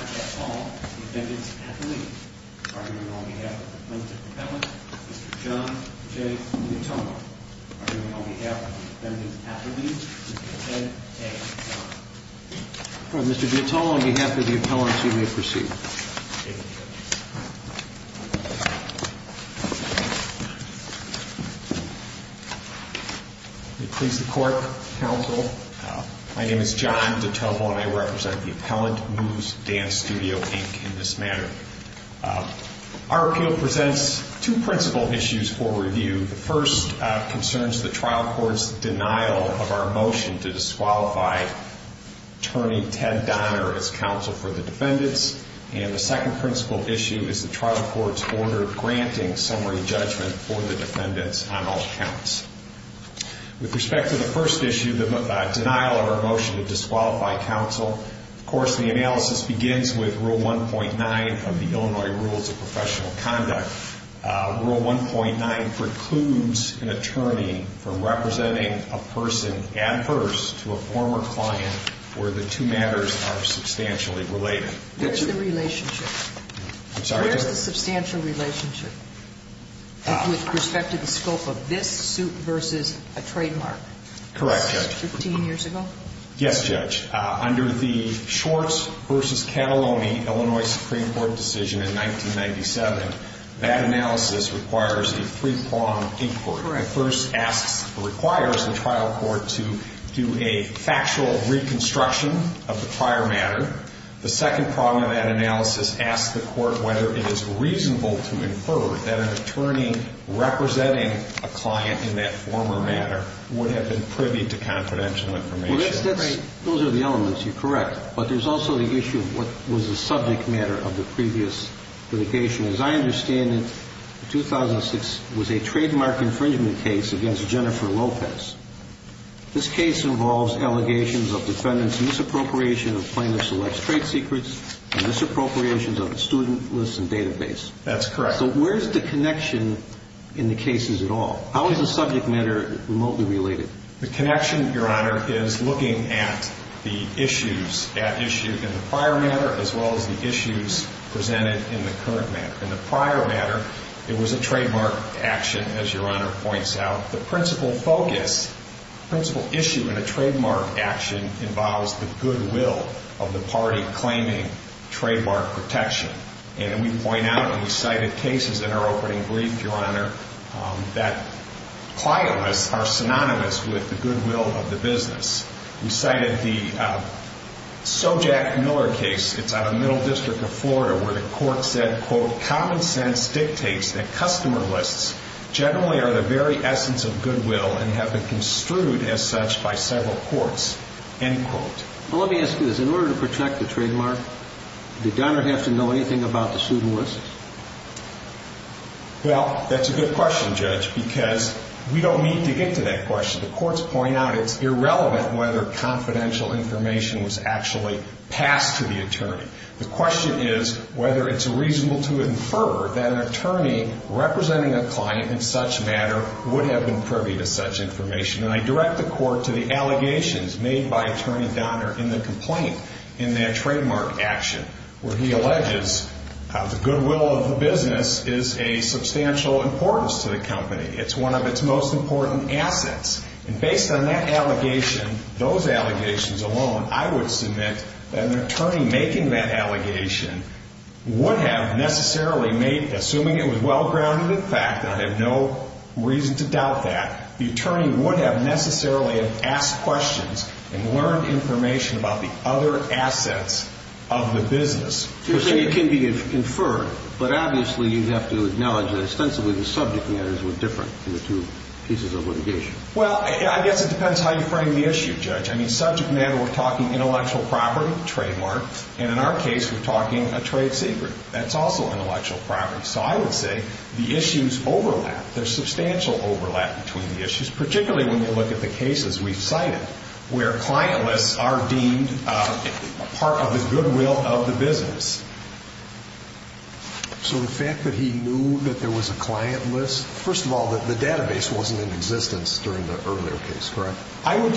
at all, the defendant's at the lead. Arguing on behalf of the plaintiff's appellant, Mr. John J. Giotomo. Arguing on behalf of the defendant's at the lead, Mr. Ted A. Giotomo. Mr. Giotomo, on behalf of the appellant, you may proceed. Please, the court, counsel. My name is John Giotomo and I represent the appellant, Moves Dance Studio, Inc, in this matter. Our appeal presents two principal issues for review. The first concerns the trial court's denial of our motion to disqualify attorney Ted Donner as counsel for the defendants. And the second principal issue is the trial court's order granting summary judgment for the defendants on all counts. With respect to the first issue, the denial of our motion to disqualify counsel, of course, the analysis begins with Rule 1.9 of the Illinois Rules of Professional Conduct. Rule 1.9 precludes an attorney from where the two matters are substantially related. Where's the relationship? I'm sorry? Where's the substantial relationship with respect to the scope of this suit versus a trademark? Correct, Judge. Fifteen years ago? Yes, Judge. Under the Shorts v. Cataloni Illinois Supreme Court decision in 1997, that analysis requires a three-prong inquiry. Correct. The first asks, requires the trial court to do a factual reconstruction of the prior matter. The second prong of that analysis asks the court whether it is reasonable to infer that an attorney representing a client in that former matter would have been privy to confidential information. Those are the elements. You're correct. But there's also the issue of what was the subject matter of the previous litigation. As I understand it, 2006 was a trademark infringement case against Jennifer Lopez. This case involves allegations of defendants' misappropriation of plaintiff-select's trade secrets and misappropriations of the student list and database. That's correct. So where's the connection in the cases at all? How is the subject matter remotely related? The connection, Your Honor, is looking at the issues presented in the current matter. In the prior matter, it was a trademark action, as Your Honor points out. The principal focus, principal issue in a trademark action involves the goodwill of the party claiming trademark protection. And we point out when we cited cases in our opening brief, Your Honor, that client lists are synonymous with the goodwill of the business. We cited the Sojack Miller case. It's out of Middle District of Florida, where the court said, quote, common sense dictates that customer lists generally are the very essence of goodwill and have been construed as such by several courts, end quote. Well, let me ask you this. In order to protect the trademark, did Donner have to know anything about the student list? Well, that's a good question, Judge, because we don't need to get to that The question is whether it's reasonable to infer that an attorney representing a client in such matter would have been privy to such information. And I direct the court to the allegations made by Attorney Donner in the complaint in that trademark action, where he alleges the goodwill of the business is a substantial importance to the company. It's one of its most important assets. And based on that allegation, those allegations alone, I would submit that an attorney making that allegation would have necessarily made, assuming it was well-grounded in fact, and I have no reason to doubt that, the attorney would have necessarily asked questions and learned information about the other assets of the business. You're saying it can be inferred, but obviously you'd have to acknowledge that ostensibly the subject matters were different in the two pieces of litigation. Well, I guess it would be fair to say that in our case, we're talking intellectual property, trademark, and in our case, we're talking a trade secret. That's also intellectual property. So I would say the issues overlap. There's substantial overlap between the issues, particularly when you look at the cases we've cited, where client lists are deemed part of the goodwill of the business. So the fact that he knew that there was a client list, first of all, the client list, I would,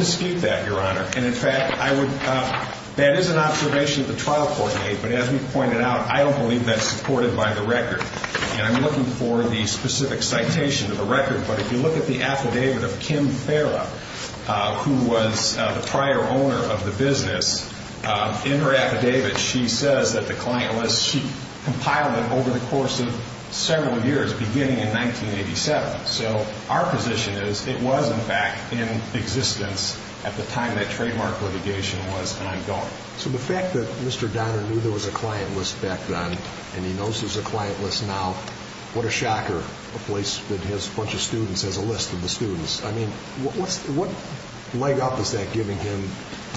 that is an observation that the trial court made, but as we pointed out, I don't believe that's supported by the record. And I'm looking for the specific citation of the record, but if you look at the affidavit of Kim Farah, who was the prior owner of the business, in her affidavit, she says that the client list, she compiled it over the course of several years, beginning in 1987. So our position is, it was in fact in existence at the time that the citation was, and I don't. So the fact that Mr. Donner knew there was a client list back then, and he knows there's a client list now, what a shocker, a place that has a bunch of students has a list of the students. I mean, what leg up is that giving him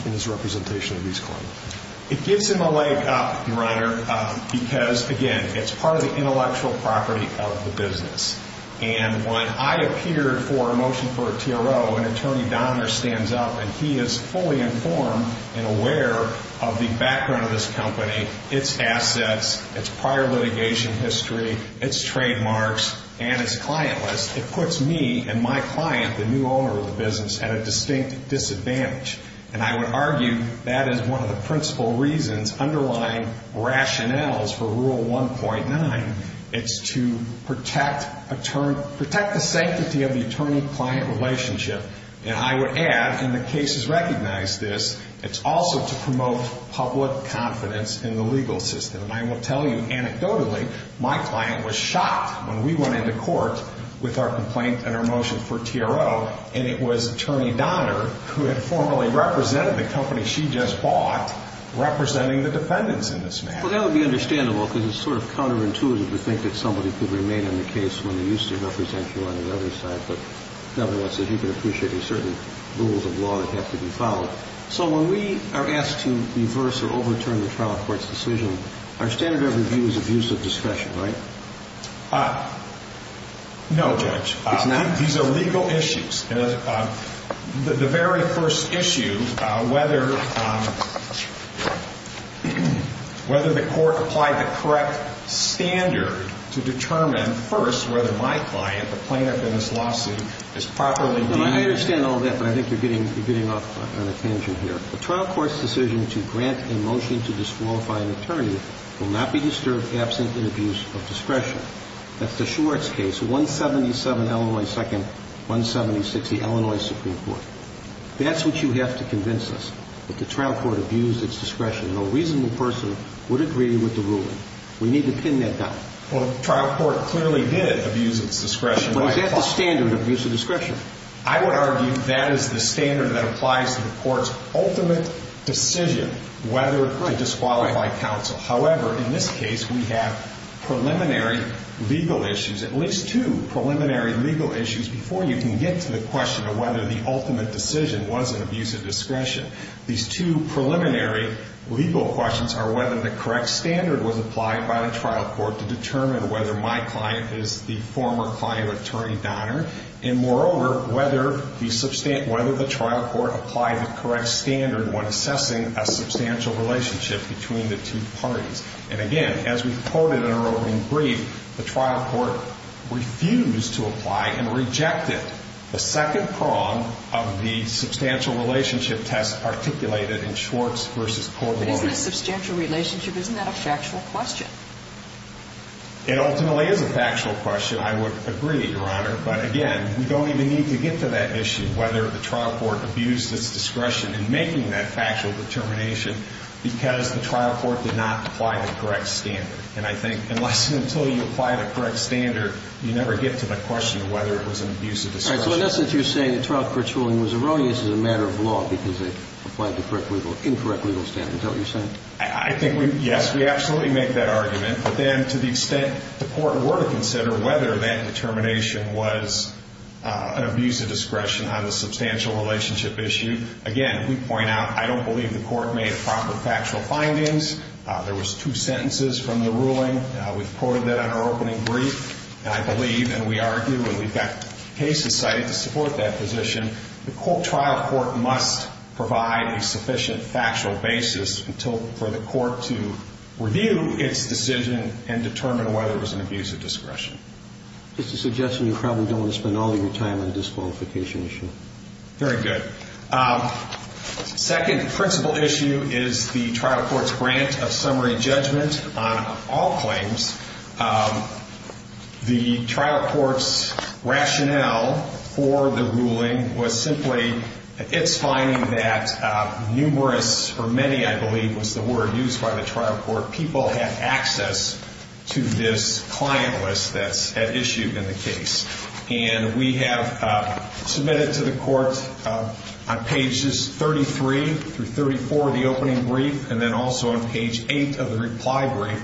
in his representation of these clients? It gives him a leg up, Your Honor, because, again, it's part of the intellectual property of the business. And when I appeared for a motion for a TRO, and Attorney Donner stands up, and he is fully informed and aware of the background of this company, its assets, its prior litigation history, its trademarks, and its client list, it puts me and my client, the new owner of the business, at a distinct disadvantage. And I would argue that is one of the And I would add, and the cases recognize this, it's also to promote public confidence in the legal system. And I will tell you, anecdotally, my client was shocked when we went into court with our complaint and our motion for TRO, and it was Attorney Donner who had formally represented the company she just bought representing the defendants in this matter. Well, that would be understandable, because it's sort of counterintuitive to think that somebody could remain in the case when they used to represent you on the other side, but in other words, that you've been appreciating certain rules of law that have to be followed. So when we are asked to reverse or overturn the trial court's decision, our standard of review is abuse of discretion, right? No, Judge. These are legal issues. The very first issue, whether the court applied the correct standard to determine, first, whether my client, the plaintiff in this lawsuit, is properly deemed to be. I understand all that, but I think you're getting off on a tangent here. A trial court's decision to grant a motion to disqualify an attorney will not be disturbed absent an abuse of discretion. That's the Schwartz case, 177 Illinois 2nd, 176 the Illinois Supreme Court. That's what you have to convince us, that the trial court abused its discretion. No reasonable person would agree with the ruling. We need to pin that down. Well, the trial court clearly did abuse its discretion. But is that the standard, abuse of discretion? I would argue that is the standard that applies to the court's ultimate decision whether to disqualify counsel. However, in this case, we have preliminary legal issues, at least two preliminary legal issues before you can get to the question of whether the ultimate decision was an abuse of discretion. These two preliminary legal questions are whether the trial court applied the correct standard when assessing a substantial relationship between the two parties. And again, as we've quoted in our opening brief, the trial court refused to apply and rejected the second prong of the substantial relationship test articulated in Schwartz v. Corbelow. But isn't a substantial relationship, isn't that a factual question? It ultimately is a factual question, I would agree, Your Honor. But again, we don't even need to get to that issue, whether the trial court abused its discretion in making that factual determination, because the trial court did not apply the correct standard. And I think unless and until you apply the correct standard, you never get to the question of whether it was an abuse of discretion. So in essence, you're saying the trial court's ruling was erroneous as a matter of law because it applied the incorrect legal standard. Is that what you're saying? I think, yes, we absolutely make that argument. But then to the extent the court were to consider whether that determination was an abuse of discretion on the substantial relationship issue, again, we point out I don't believe the court made proper factual findings. There was two sentences from the ruling. We've quoted that in our opening brief, I believe, and we argue and we've got cases cited to support that position. The trial court must provide a sufficient factual basis for the court to review its decision and determine whether it was an abuse of discretion. Just a suggestion, you probably don't want to spend all of your time on the disqualification issue. Very good. Second principle issue is the trial court's grant of summary judgment on all claims. The trial court's rationale for the ruling was simply its finding that numerous, or many I believe was the word used by the trial court, people have access to this client list that's issued in the case. And we have submitted to the court on pages 33 through 34 of the opening brief, and then also on page 8 of the reply brief,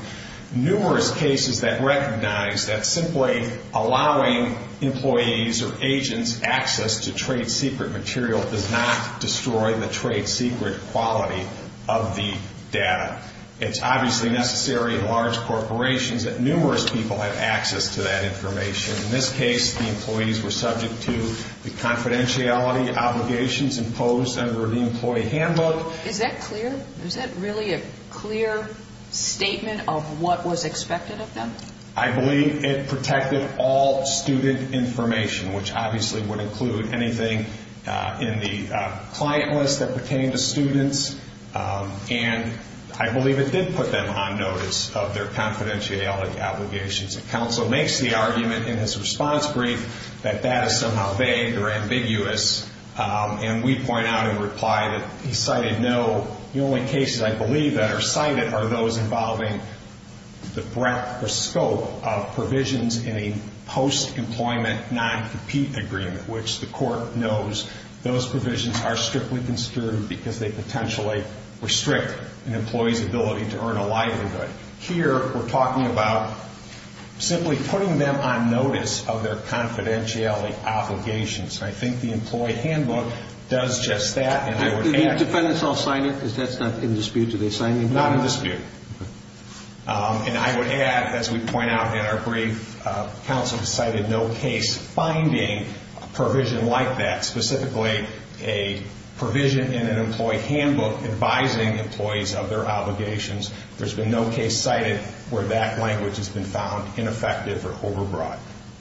numerous cases that recognize that simply allowing employees or agents access to trade secret material does not destroy the trade secret quality of the data. It's obviously necessary in large corporations that numerous people have access to that information. In this case, the employees were subject to the confidentiality obligations imposed under the employee handbook. Is that clear? Is that really a clear statement of what was expected of them? I believe it protected all student information, which obviously would include anything in the client list that pertained to students. And I believe it did put them on notice of their confidentiality The only cases I believe that are cited are those involving the breadth or scope of provisions in a post-employment non-compete agreement, which the court knows those provisions are strictly because they potentially restrict an employee's ability to earn a livelihood. Here we're talking about simply putting them on notice of their confidentiality obligations. I think the employee handbook does just that. Do the defendants all sign it? Because that's not in dispute. Do they sign it? Not in dispute. And I would add, as we point out in our brief, counsel decided no case finding a provision like that, specifically a provision in an employee handbook advising employees of their obligations. There's been no case cited where that language has been found ineffective or overbroad.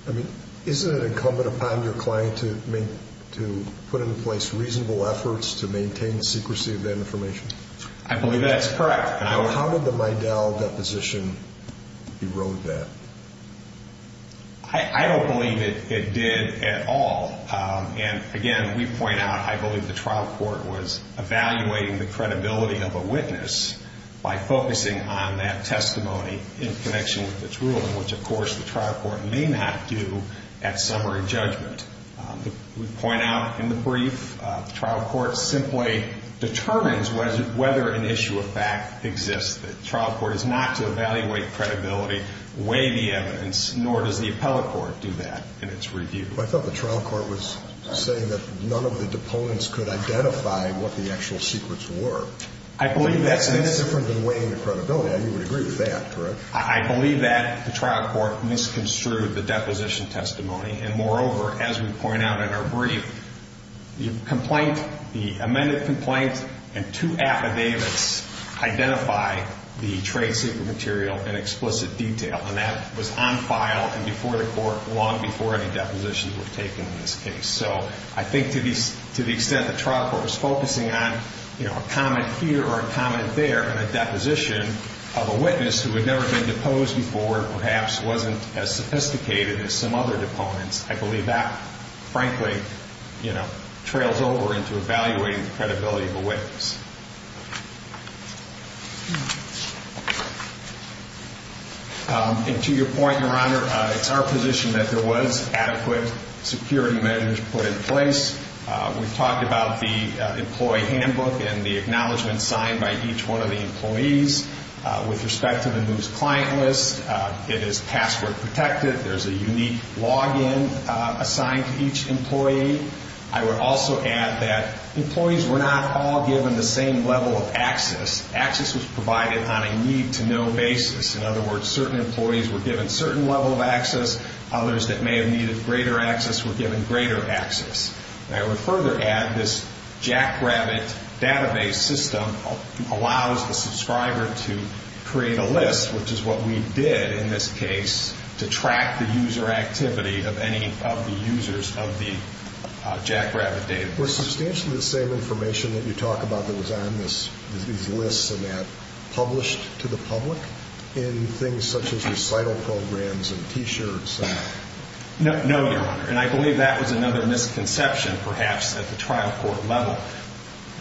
I mean, isn't it incumbent upon your client to put into place reasonable efforts to maintain the secrecy of that information? I believe that's correct. How did the Midell deposition erode that? I don't believe it did at all. And again, we point out, I believe the trial court was evaluating the credibility of a witness by focusing on that testimony in connection with its ruling, which of course the trial court may not do at summary judgment. We point out in the brief, the trial court simply determines whether an issue of fact exists. The trial court is not to evaluate credibility, weigh the evidence, nor does the appellate court do that in its review. I thought the trial court was saying that none of the deponents could identify what the actual secrets were. I believe that's the case. That's different than weighing the credibility. I mean, you would agree with that, correct? I believe that the trial court misconstrued the deposition testimony. And moreover, as we point out in our brief, the complaint, the amended complaint and two affidavits identify the trade secret material in explicit detail. And that was on file and before the court long before any depositions were taken in this case. So I think to the extent the trial court was focusing on, you know, a comment here or a comment there in a deposition of a witness who had never been deposed before, perhaps wasn't as sophisticated as some other deponents. I believe that, frankly, you know, trails over into evaluating the credibility of a witness. And to your point, Your Honor, it's our position that there was adequate security measures put in place. We've talked about the employee handbook and the acknowledgment signed by each one of the employees with respect to the news client list. It is password protected. There's a unique login assigned to each employee. I would also add that employees were not all given the same level of access. Access was provided on a need-to-know basis. In other words, certain employees were given certain level of access. Others that may have needed greater access were given greater access. I would further add this Jackrabbit database system allows the subscriber to create a list, which is what we did in this case, to track the user activity of any of the users of the Jackrabbit database. Was substantially the same information that you talk about that was on these lists and that published to the public in things such as recital programs and T-shirts? No, Your Honor. And I believe that was another misconception perhaps at the trial court level.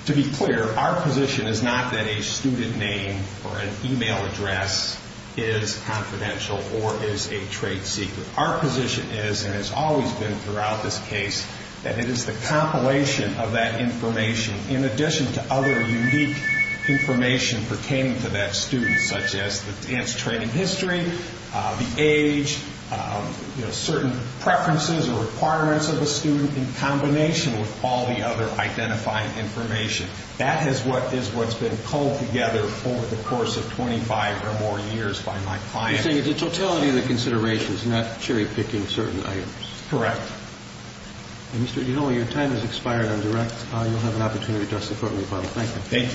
To be clear, our position is not that a student name or an email address is confidential or is a trade secret. Our position is and has always been throughout this case that it is the compilation of that information in addition to other unique information pertaining to that student such as the dance training history, the age, certain preferences or requirements of the student in combination with all the other identifying information. That is what's been pulled together over the course of 25 or more years by my client. So you're saying it's a totality of the considerations, not cherry picking certain items? Correct. Mr. Dino, your time has expired on direct. You'll have an opportunity to address the Court in rebuttal. Thank you. Thank you.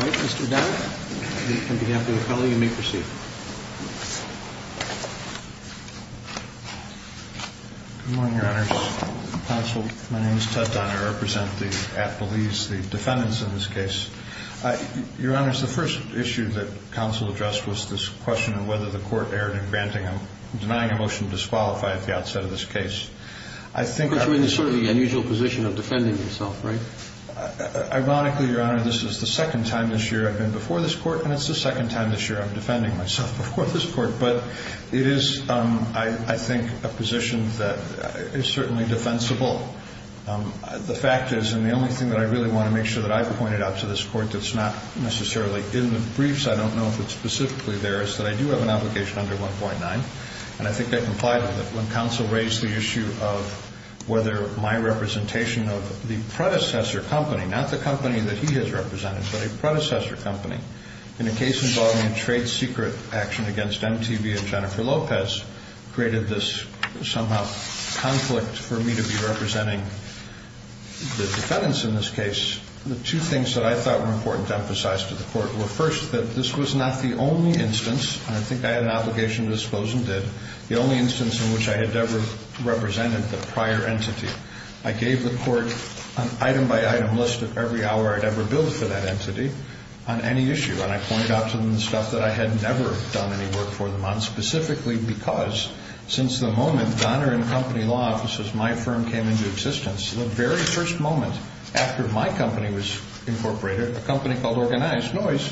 All right. Mr. Dowd, on behalf of the College, you may proceed. Good morning, Your Honor. Counsel, my name is Ted Downer. I represent the at-the-lease, the defendants in this case. Your Honor, the first issue that counsel addressed was this question of whether the Court erred in denying a motion to disqualify at the outset of this case. But you're in sort of the unusual position of defending yourself, right? Ironically, Your Honor, this is the second time this year I've been before this Court, and it's the second time this year I'm defending myself before this Court. But it is, I think, a position that is certainly defensible. The fact is, and the only thing that I really want to make sure that I've pointed out to this Court that's not necessarily in the briefs, I don't know if it's specifically there, is that I do have an obligation under 1.9, and I think I complied with it. When counsel raised the issue of whether my representation of the predecessor company, not the company that he has represented, but a predecessor company in a case involving a trade secret action against MTV and Jennifer Lopez, created this somehow conflict for me to be representing the defendants in this case, the two things that I thought were important to emphasize to the Court were, first, that this was not the only instance, and I think I had an obligation to dispose and did, the only instance in which I had ever represented the prior entity. I gave the Court an item-by-item list of every hour I'd ever billed for that entity on any issue, and I pointed out to them the stuff that I had never done any work for them on, specifically because since the moment Donner & Company Law Offices, my firm, came into existence, the very first moment after my company was incorporated, a company called Organized Noise,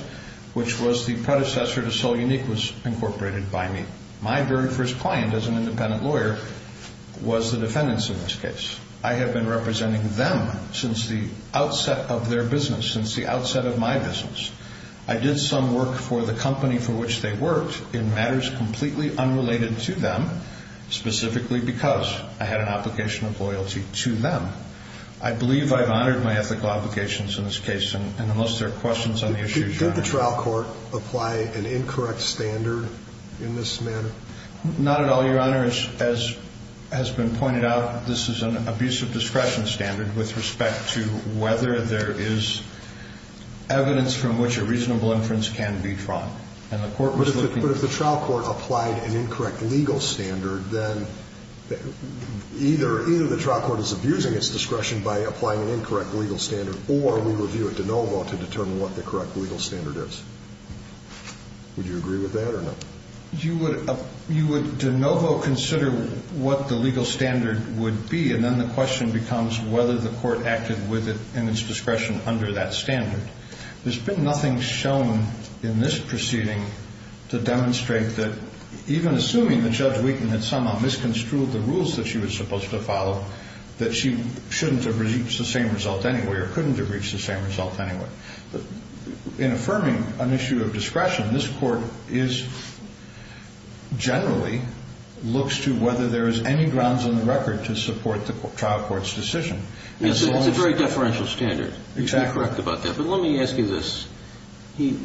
which was the predecessor to Sol Unique, was incorporated by me. My very first client as an independent lawyer was the defendants in this case. I have been representing them since the outset of their business, since the outset of my business. I did some work for the company for which they worked in matters completely unrelated to them, specifically because I had an obligation of loyalty to them. I believe I've honored my ethical obligations in this case, and unless there are questions on the issue, John? If the trial court applied an incorrect standard in this matter? Not at all, Your Honor. As has been pointed out, this is an abuse of discretion standard with respect to whether there is evidence from which a reasonable inference can be drawn. And the Court was looking for... But if the trial court applied an incorrect legal standard, then either the trial court is abusing its discretion by applying an incorrect legal standard or we review it de novo to determine what the correct legal standard is. Would you agree with that or no? You would de novo consider what the legal standard would be, and then the question becomes whether the court acted with it in its discretion under that standard. There's been nothing shown in this proceeding to demonstrate that, even assuming that Judge Wiegand had somehow misconstrued the rules that she was supposed to follow, that she shouldn't have reached the same result anyway or couldn't have reached the same result anyway. In affirming an issue of discretion, this Court generally looks to whether there is any grounds in the record to support the trial court's decision. It's a very deferential standard. Exactly. You're correct about that. But let me ask you this. The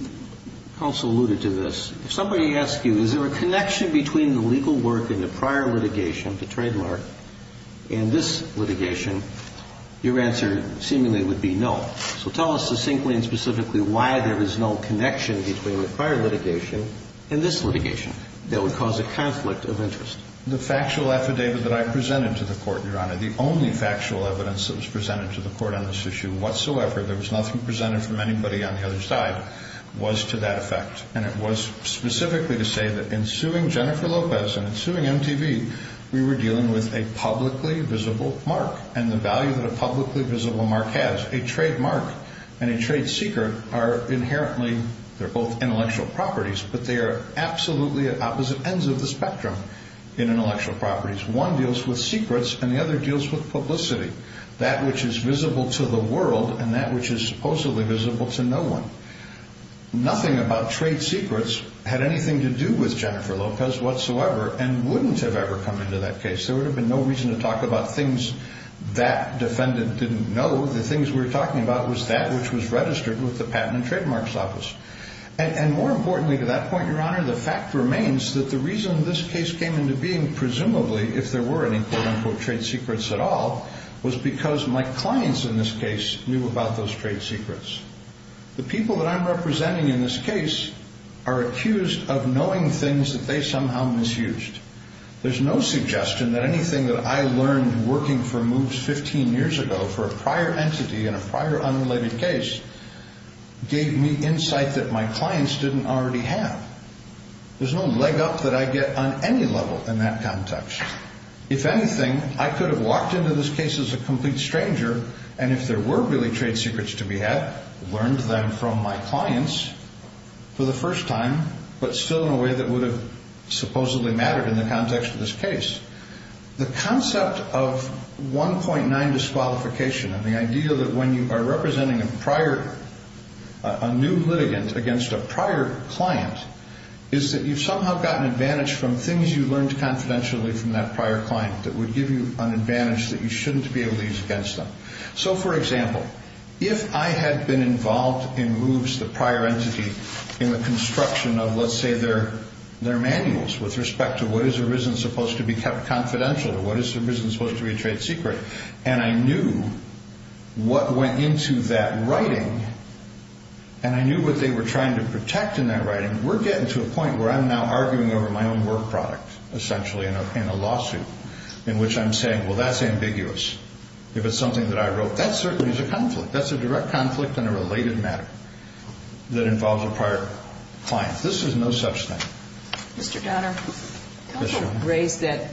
counsel alluded to this. If somebody asked you, is there a connection between the legal work in the prior litigation, the trademark, and this litigation, your answer seemingly would be no. So tell us succinctly and specifically why there is no connection between the prior litigation and this litigation that would cause a conflict of interest. The factual affidavit that I presented to the Court, Your Honor, the only factual evidence that was presented to the Court on this issue whatsoever, there was nothing presented from anybody on the other side, was to that effect. And it was specifically to say that in suing Jennifer Lopez and in suing MTV, we were dealing with a publicly visible mark and the value that a publicly visible mark has. A trademark and a trade secret are inherently, they're both intellectual properties, but they are absolutely at opposite ends of the spectrum in intellectual properties. One deals with secrets and the other deals with publicity, that which is visible to the world and that which is supposedly visible to no one. Nothing about trade secrets had anything to do with Jennifer Lopez whatsoever and wouldn't have ever come into that case. There would have been no reason to talk about things that defendant didn't know. The things we were talking about was that which was registered with the Patent and Trademarks Office. And more importantly to that point, Your Honor, the fact remains that the reason this case came into being, presumably, if there were any, quote, unquote, trade secrets at all, was because my clients in this case knew about those trade secrets. The people that I'm representing in this case are accused of knowing things that they somehow misused. There's no suggestion that anything that I learned working for Moves 15 years ago, for a prior entity in a prior unrelated case, gave me insight that my clients didn't already have. There's no leg up that I get on any level in that context. If anything, I could have walked into this case as a complete stranger and if there were really trade secrets to be had, learned them from my clients for the first time, but still in a way that would have supposedly mattered in the context of this case. The concept of 1.9 disqualification and the idea that when you are representing a prior, a new litigant against a prior client, is that you've somehow gotten advantage from things you learned confidentially from that prior client that would give you an advantage that you shouldn't be able to use against them. So, for example, if I had been involved in Moves, the prior entity, in the construction of, let's say, their manuals with respect to what is or isn't supposed to be kept confidential, or what is or isn't supposed to be a trade secret, and I knew what went into that writing, and I knew what they were trying to protect in that writing, we're getting to a point where I'm now arguing over my own work product, essentially, in a lawsuit, in which I'm saying, well, that's ambiguous. If it's something that I wrote, that certainly is a conflict. That's a direct conflict in a related matter that involves a prior client. This is no such thing. Mr. Donner, counsel raised that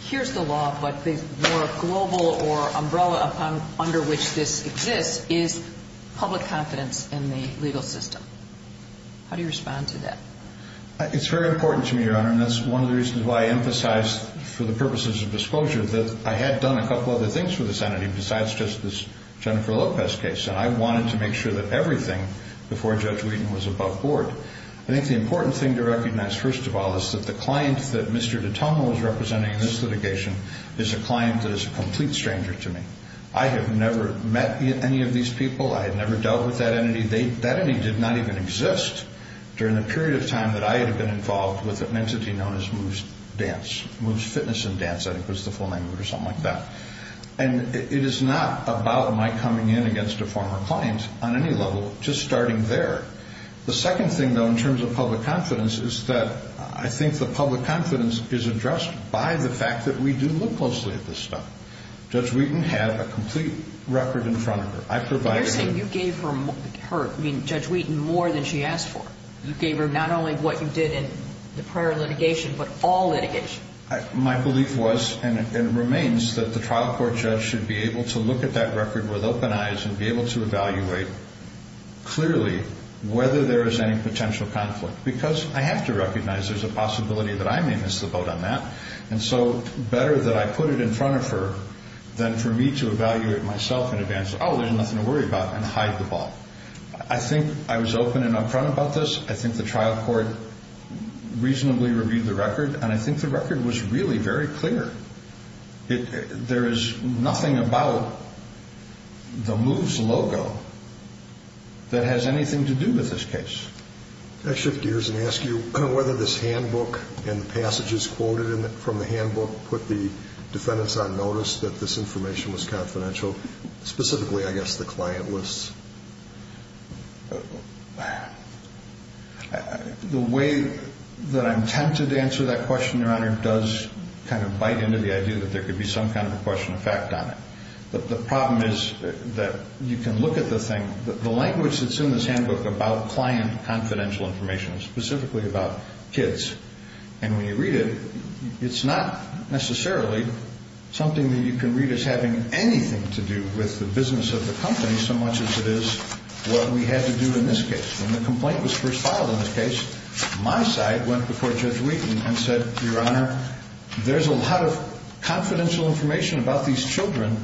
here's the law, but the more global or umbrella under which this exists is public confidence in the legal system. How do you respond to that? It's very important to me, Your Honor, and that's one of the reasons why I emphasize, for the purposes of disclosure, that I had done a couple other things for this entity besides just this Jennifer Lopez case, and I wanted to make sure that everything before Judge Whedon was above board. I think the important thing to recognize, first of all, is that the client that Mr. Dittomo is representing in this litigation is a client that is a complete stranger to me. I have never met any of these people. I have never dealt with that entity. That entity did not even exist during the period of time that I had been involved with an entity known as Moves Dance, Moves Fitness and Dance, I think was the full name, or something like that. And it is not about my coming in against a former client on any level, just starting there. The second thing, though, in terms of public confidence is that I think the public confidence is addressed by the fact that we do look closely at this stuff. Judge Whedon had a complete record in front of her. You're saying you gave Judge Whedon more than she asked for. You gave her not only what you did in the prior litigation but all litigation. My belief was and remains that the trial court judge should be able to look at that record with open eyes and be able to evaluate clearly whether there is any potential conflict because I have to recognize there is a possibility that I may miss the boat on that. And so better that I put it in front of her than for me to evaluate myself in advance, oh, there's nothing to worry about, and hide the ball. I think I was open and upfront about this. I think the trial court reasonably reviewed the record, and I think the record was really very clear. There is nothing about the Moves logo that has anything to do with this case. Can I shift gears and ask you whether this handbook and the passages quoted from the handbook put the defendants on notice that this information was confidential, specifically, I guess, the client lists? The way that I'm tempted to answer that question, Your Honor, does kind of bite into the idea that there could be some kind of a question of fact on it. The problem is that you can look at the thing. The language that's in this handbook about client confidential information, specifically about kids, and when you read it, it's not necessarily something that you can read as having anything to do with the business of the company so much as it is what we had to do in this case. When the complaint was first filed in this case, my side went before Judge Wheaton and said, Your Honor, there's a lot of confidential information about these children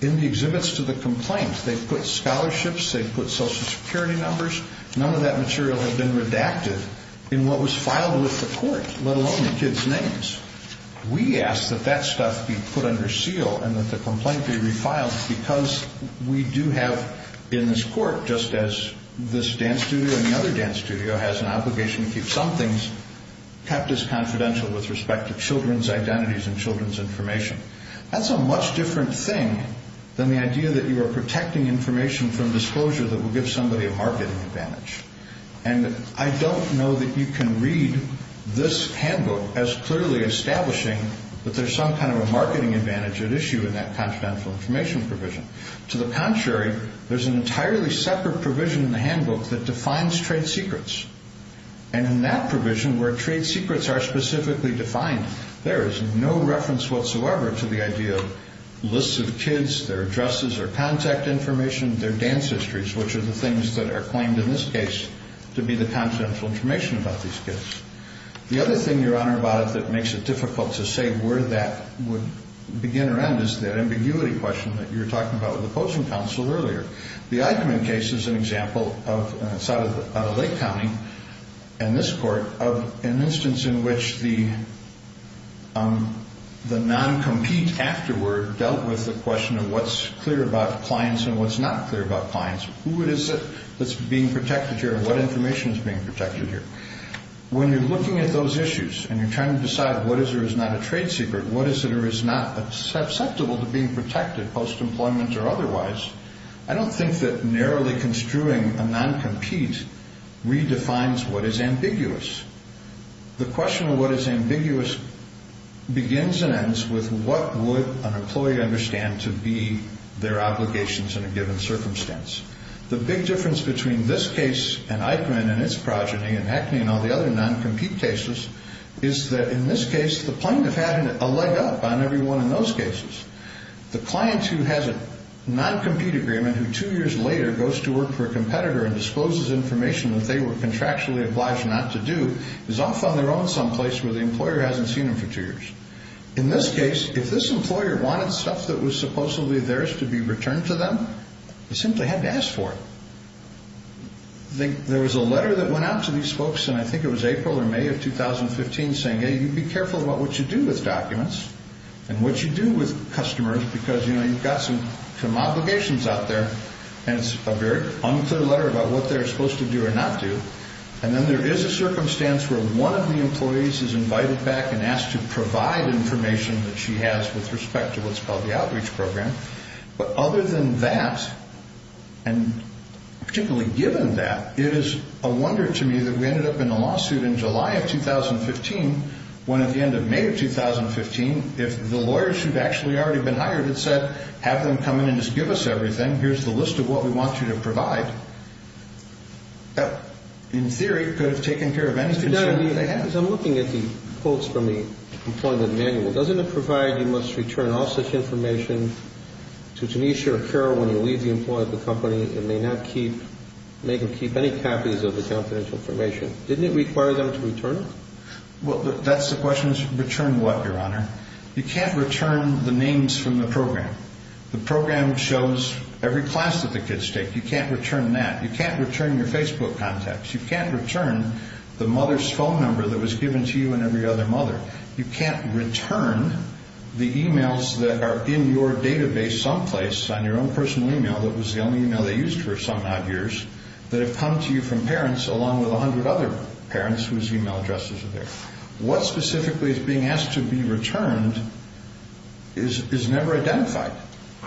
in the exhibits to the complaint. They put scholarships. They put Social Security numbers. None of that material had been redacted in what was filed with the court, let alone the kids' names. We asked that that stuff be put under seal and that the complaint be refiled because we do have in this court, just as this dance studio and the other dance studio has an obligation to keep some things kept as confidential with respect to children's identities and children's information. That's a much different thing than the idea that you are protecting information from disclosure that will give somebody a marketing advantage. And I don't know that you can read this handbook as clearly establishing that there's some kind of a marketing advantage at issue in that confidential information provision. To the contrary, there's an entirely separate provision in the handbook that defines trade secrets. And in that provision where trade secrets are specifically defined, there is no reference whatsoever to the idea of lists of kids, their addresses or contact information, their dance histories, which are the things that are claimed in this case to be the confidential information about these kids. The other thing, Your Honor, about it that makes it difficult to say where that would begin or end is that ambiguity question that you were talking about with the opposing counsel earlier. The Eichmann case is an example of Lake County and this court of an instance in which the non-compete afterward dealt with the question of what's clear about clients and what's not clear about clients. Who is it that's being protected here and what information is being protected here? When you're looking at those issues and you're trying to decide what is or is not a trade secret, what is it or is not susceptible to being protected post-employment or otherwise, I don't think that narrowly construing a non-compete redefines what is ambiguous. The question of what is ambiguous begins and ends with what would an employee understand to be their obligations in a given circumstance. The big difference between this case and Eichmann and its progeny and Hackney and all the other non-compete cases is that in this case the plaintiff had a leg up on everyone in those cases. The client who has a non-compete agreement who two years later goes to work for a competitor and discloses information that they were contractually obliged not to do is off on their own someplace where the employer hasn't seen them for two years. In this case, if this employer wanted stuff that was supposedly theirs to be returned to them, they simply had to ask for it. There was a letter that went out to these folks in I think it was April or May of 2015 saying, you'd be careful about what you do with documents and what you do with customers because you've got some obligations out there. And it's a very unclear letter about what they're supposed to do or not do. And then there is a circumstance where one of the employees is invited back and asked to provide information that she has with respect to what's called the outreach program. But other than that, and particularly given that, it is a wonder to me that we ended up in a lawsuit in July of 2015 when at the end of May of 2015, if the lawyer should have actually already been hired and said, have them come in and just give us everything, here's the list of what we want you to provide, that in theory could have taken care of any concern that they had. As I'm looking at the quotes from the employment manual, doesn't it provide you must return all such information to Tanisha or Carol when you leave the employee at the company and may not keep, make or keep any copies of the confidential information? Didn't it require them to return it? Well, that's the question is return what, Your Honor? You can't return the names from the program. The program shows every class that the kids take. You can't return that. You can't return your Facebook contacts. You can't return the mother's phone number that was given to you and every other mother. You can't return the e-mails that are in your database someplace on your own personal e-mail that was the only e-mail they used for some odd years that have come to you from parents along with a hundred other parents whose e-mail addresses are there. What specifically is being asked to be returned is never identified.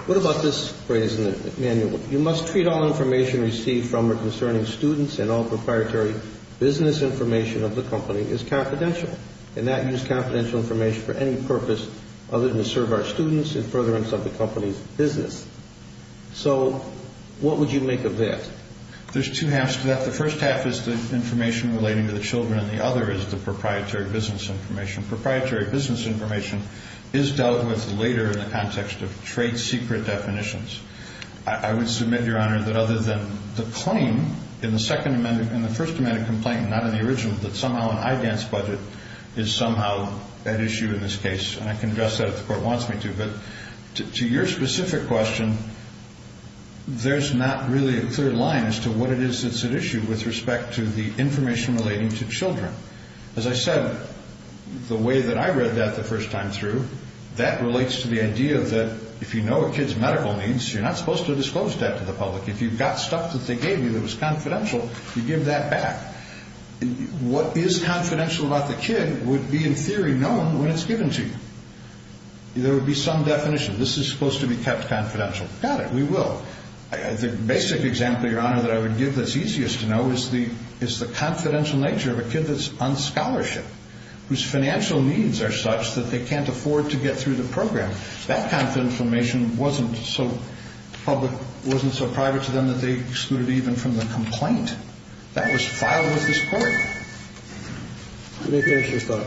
What about this phrase in the manual? You must treat all information received from or concerning students and all proprietary business information of the company as confidential. Do not use confidential information for any purpose other than to serve our students and furtherance of the company's business. So what would you make of that? There's two halves to that. The first half is the information relating to the children, and the other is the proprietary business information. Proprietary business information is dealt with later in the context of trade secret definitions. I would submit, Your Honor, that other than the claim in the Second Amendment, and the First Amendment complaint not in the original, that somehow an IDANS budget is somehow at issue in this case. And I can address that if the Court wants me to. But to your specific question, there's not really a clear line as to what it is that's at issue with respect to the information relating to children. As I said, the way that I read that the first time through, that relates to the idea that if you know a kid's medical needs, you're not supposed to disclose that to the public. If you've got stuff that they gave you that was confidential, you give that back. What is confidential about the kid would be, in theory, known when it's given to you. There would be some definition. This is supposed to be kept confidential. Got it. We will. The basic example, Your Honor, that I would give that's easiest to know is the confidential nature of a kid that's on scholarship, whose financial needs are such that they can't afford to get through the program. That kind of information wasn't so public, wasn't so private to them that they excluded even from the complaint that was filed with this Court. Let me finish this thought.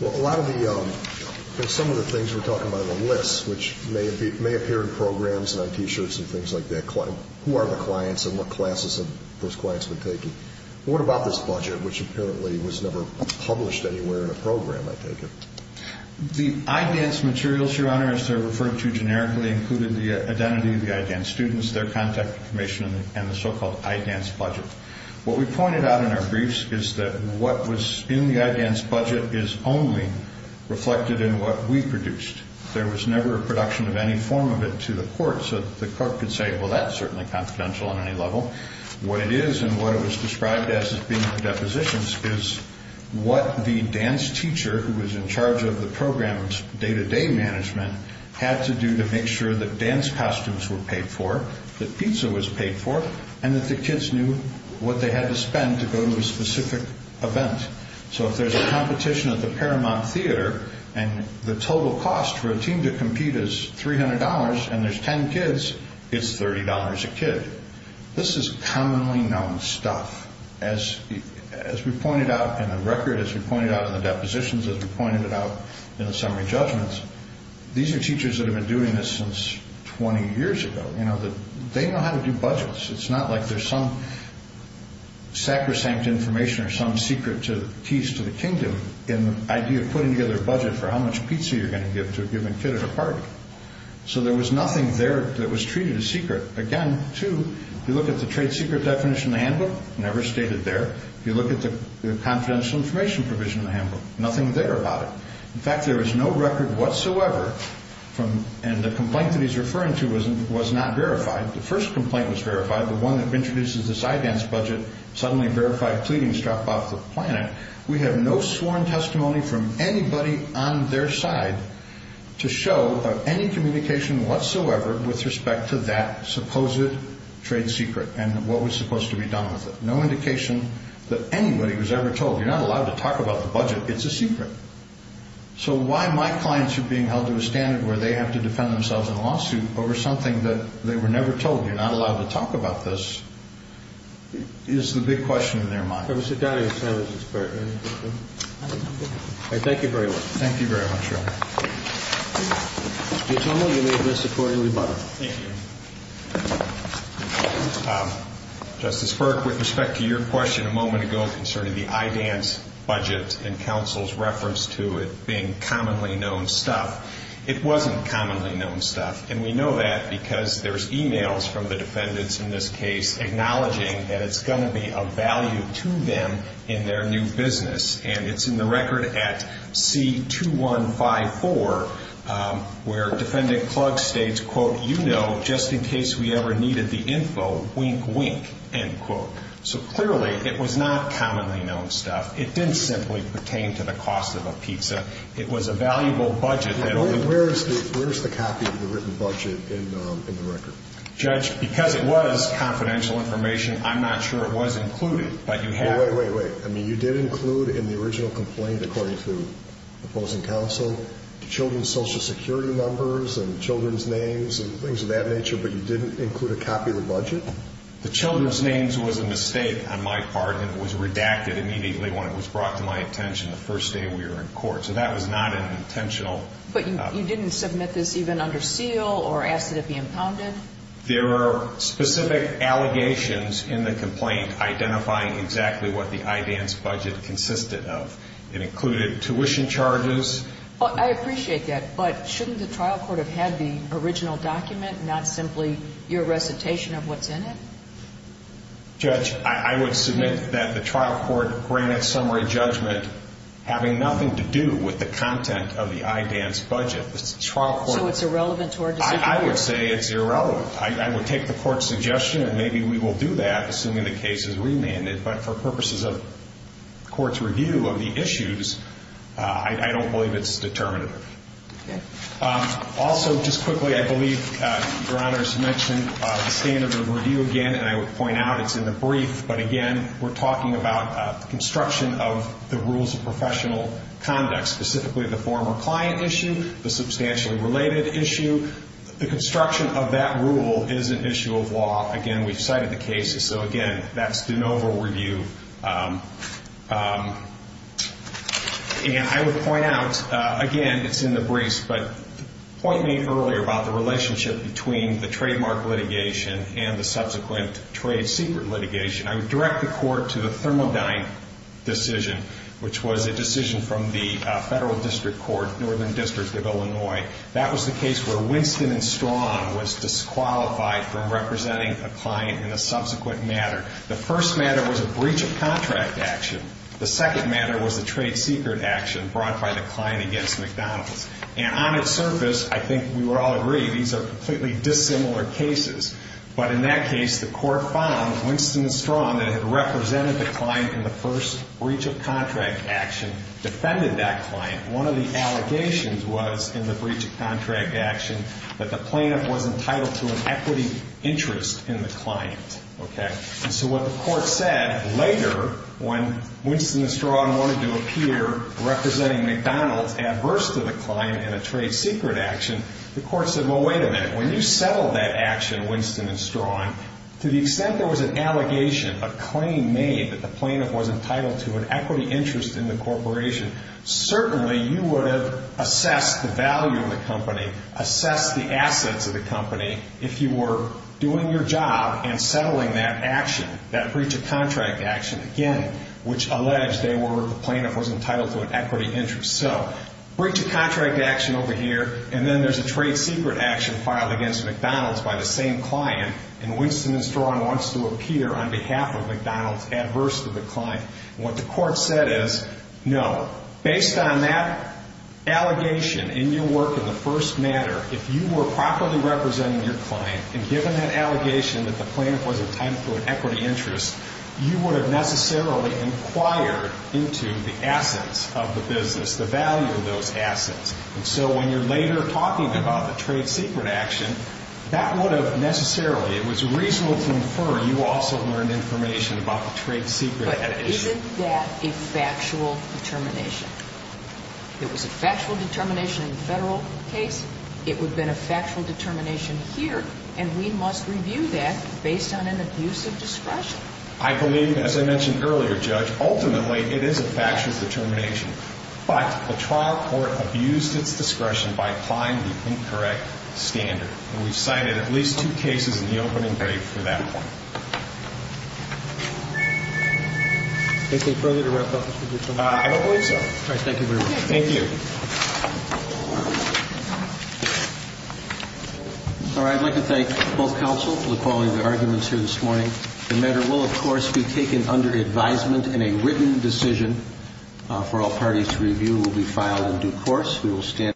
Well, a lot of the, some of the things we're talking about on the list, which may appear in programs and on T-shirts and things like that, who are the clients and what classes have those clients been taking. What about this budget, which apparently was never published anywhere in a program, I take it? The I-DANCE materials, Your Honor, as they're referred to generically, included the identity of the I-DANCE students, their contact information, and the so-called I-DANCE budget. What we pointed out in our briefs is that what was in the I-DANCE budget is only reflected in what we produced. There was never a production of any form of it to the Court, so the Court could say, well, that's certainly confidential on any level. What it is and what it was described as being for depositions is what the dance teacher who was in charge of the program's day-to-day management had to do to make sure that dance costumes were paid for, that pizza was paid for, and that the kids knew what they had to spend to go to a specific event. So if there's a competition at the Paramount Theater and the total cost for a team to compete is $300 and there's 10 kids, it's $30 a kid. This is commonly known stuff. As we pointed out in the record, as we pointed out in the depositions, as we pointed it out in the summary judgments, these are teachers that have been doing this since 20 years ago. They know how to do budgets. It's not like there's some sacrosanct information or some secret keys to the kingdom in the idea of putting together a budget for how much pizza you're going to give to a given kid at a party. So there was nothing there that was treated as secret. Again, too, if you look at the trade secret definition in the handbook, never stated there. If you look at the confidential information provision in the handbook, nothing there about it. In fact, there is no record whatsoever, and the complaint that he's referring to was not verified. The first complaint was verified, the one that introduces the PsyDance budget, suddenly verified pleadings drop off the planet. We have no sworn testimony from anybody on their side to show any communication whatsoever with respect to that supposed trade secret and what was supposed to be done with it. No indication that anybody was ever told, you're not allowed to talk about the budget. It's a secret. So why my clients are being held to a standard where they have to defend themselves in a lawsuit over something that they were never told, you're not allowed to talk about this, is the big question in their mind. Thank you very much. Thank you very much, Your Honor. The attorney will be admitted to the court in rebuttal. Thank you. Justice Burke, with respect to your question a moment ago concerning the PsyDance budget and counsel's reference to it being commonly known stuff, it wasn't commonly known stuff. And we know that because there's e-mails from the defendants in this case acknowledging that it's going to be of value to them in their new business. And it's in the record at C2154 where Defendant Klug states, quote, you know, just in case we ever needed the info, wink, wink, end quote. So clearly it was not commonly known stuff. It didn't simply pertain to the cost of a pizza. It was a valuable budget. Where is the copy of the written budget in the record? Judge, because it was confidential information, I'm not sure it was included, but you have it. Wait, wait, wait. I mean, you did include in the original complaint, according to the opposing counsel, the children's Social Security numbers and children's names and things of that nature, but you didn't include a copy of the budget? The children's names was a mistake on my part, and it was redacted immediately when it was brought to my attention the first day we were in court. So that was not an intentional. But you didn't submit this even under seal or ask it to be impounded? There are specific allegations in the complaint identifying exactly what the IDAN's budget consisted of. It included tuition charges. I appreciate that, but shouldn't the trial court have had the original document, not simply your recitation of what's in it? Judge, I would submit that the trial court granted summary judgment having nothing to do with the content of the IDAN's budget. So it's irrelevant to our decision? I would say it's irrelevant. I would take the court's suggestion, and maybe we will do that, assuming the case is remanded. But for purposes of court's review of the issues, I don't believe it's determinative. Okay. Also, just quickly, I believe Your Honors mentioned the standard of review again, and I would point out it's in the brief. But, again, we're talking about the construction of the rules of professional conduct, specifically the former client issue, the substantially related issue. The construction of that rule is an issue of law. Again, we've cited the cases. So, again, that's de novo review. And I would point out, again, it's in the brief, but point made earlier about the relationship between the trademark litigation and the subsequent trade secret litigation, I would direct the court to the Thermodyne decision, which was a decision from the Federal District Court, Northern District of Illinois. That was the case where Winston & Strong was disqualified from representing a client in a subsequent matter. The first matter was a breach of contract action. The second matter was a trade secret action brought by the client against McDonald's. And on its surface, I think we would all agree these are completely dissimilar cases. But in that case, the court found Winston & Strong, that it had represented the client in the first breach of contract action, defended that client. One of the allegations was in the breach of contract action that the plaintiff was entitled to an equity interest in the client. And so what the court said later when Winston & Strong wanted to appear representing McDonald's adverse to the client in a trade secret action, the court said, well, wait a minute. When you settled that action, Winston & Strong, to the extent there was an allegation, a claim made that the plaintiff was entitled to an equity interest in the corporation, certainly you would have assessed the value of the company, assessed the assets of the company, if you were doing your job and settling that action, that breach of contract action, again, which alleged they were, the plaintiff was entitled to an equity interest. So, breach of contract action over here, and then there's a trade secret action filed against McDonald's by the same client, and Winston & Strong wants to appear on behalf of McDonald's adverse to the client. And what the court said is, no, based on that allegation in your work in the first matter, if you were properly representing your client, and given that allegation that the plaintiff was entitled to an equity interest, you would have necessarily inquired into the assets of the business, the value of those assets. And so when you're later talking about the trade secret action, that would have necessarily, it was reasonable to infer you also learned information about the trade secret. But isn't that a factual determination? It was a factual determination in the Federal case. It would have been a factual determination here, and we must review that based on an abuse of discretion. I believe, as I mentioned earlier, Judge, ultimately it is a factual determination. But the trial court abused its discretion by applying the incorrect standard. And we've cited at least two cases in the opening brief for that one. Anything further to wrap up? I don't believe so. Thank you very much. Thank you. All right. I'd like to thank both counsel for the quality of their arguments here this morning. The matter will, of course, be taken under advisement, and a written decision for all parties to review will be filed in due course. We will stand adjourned.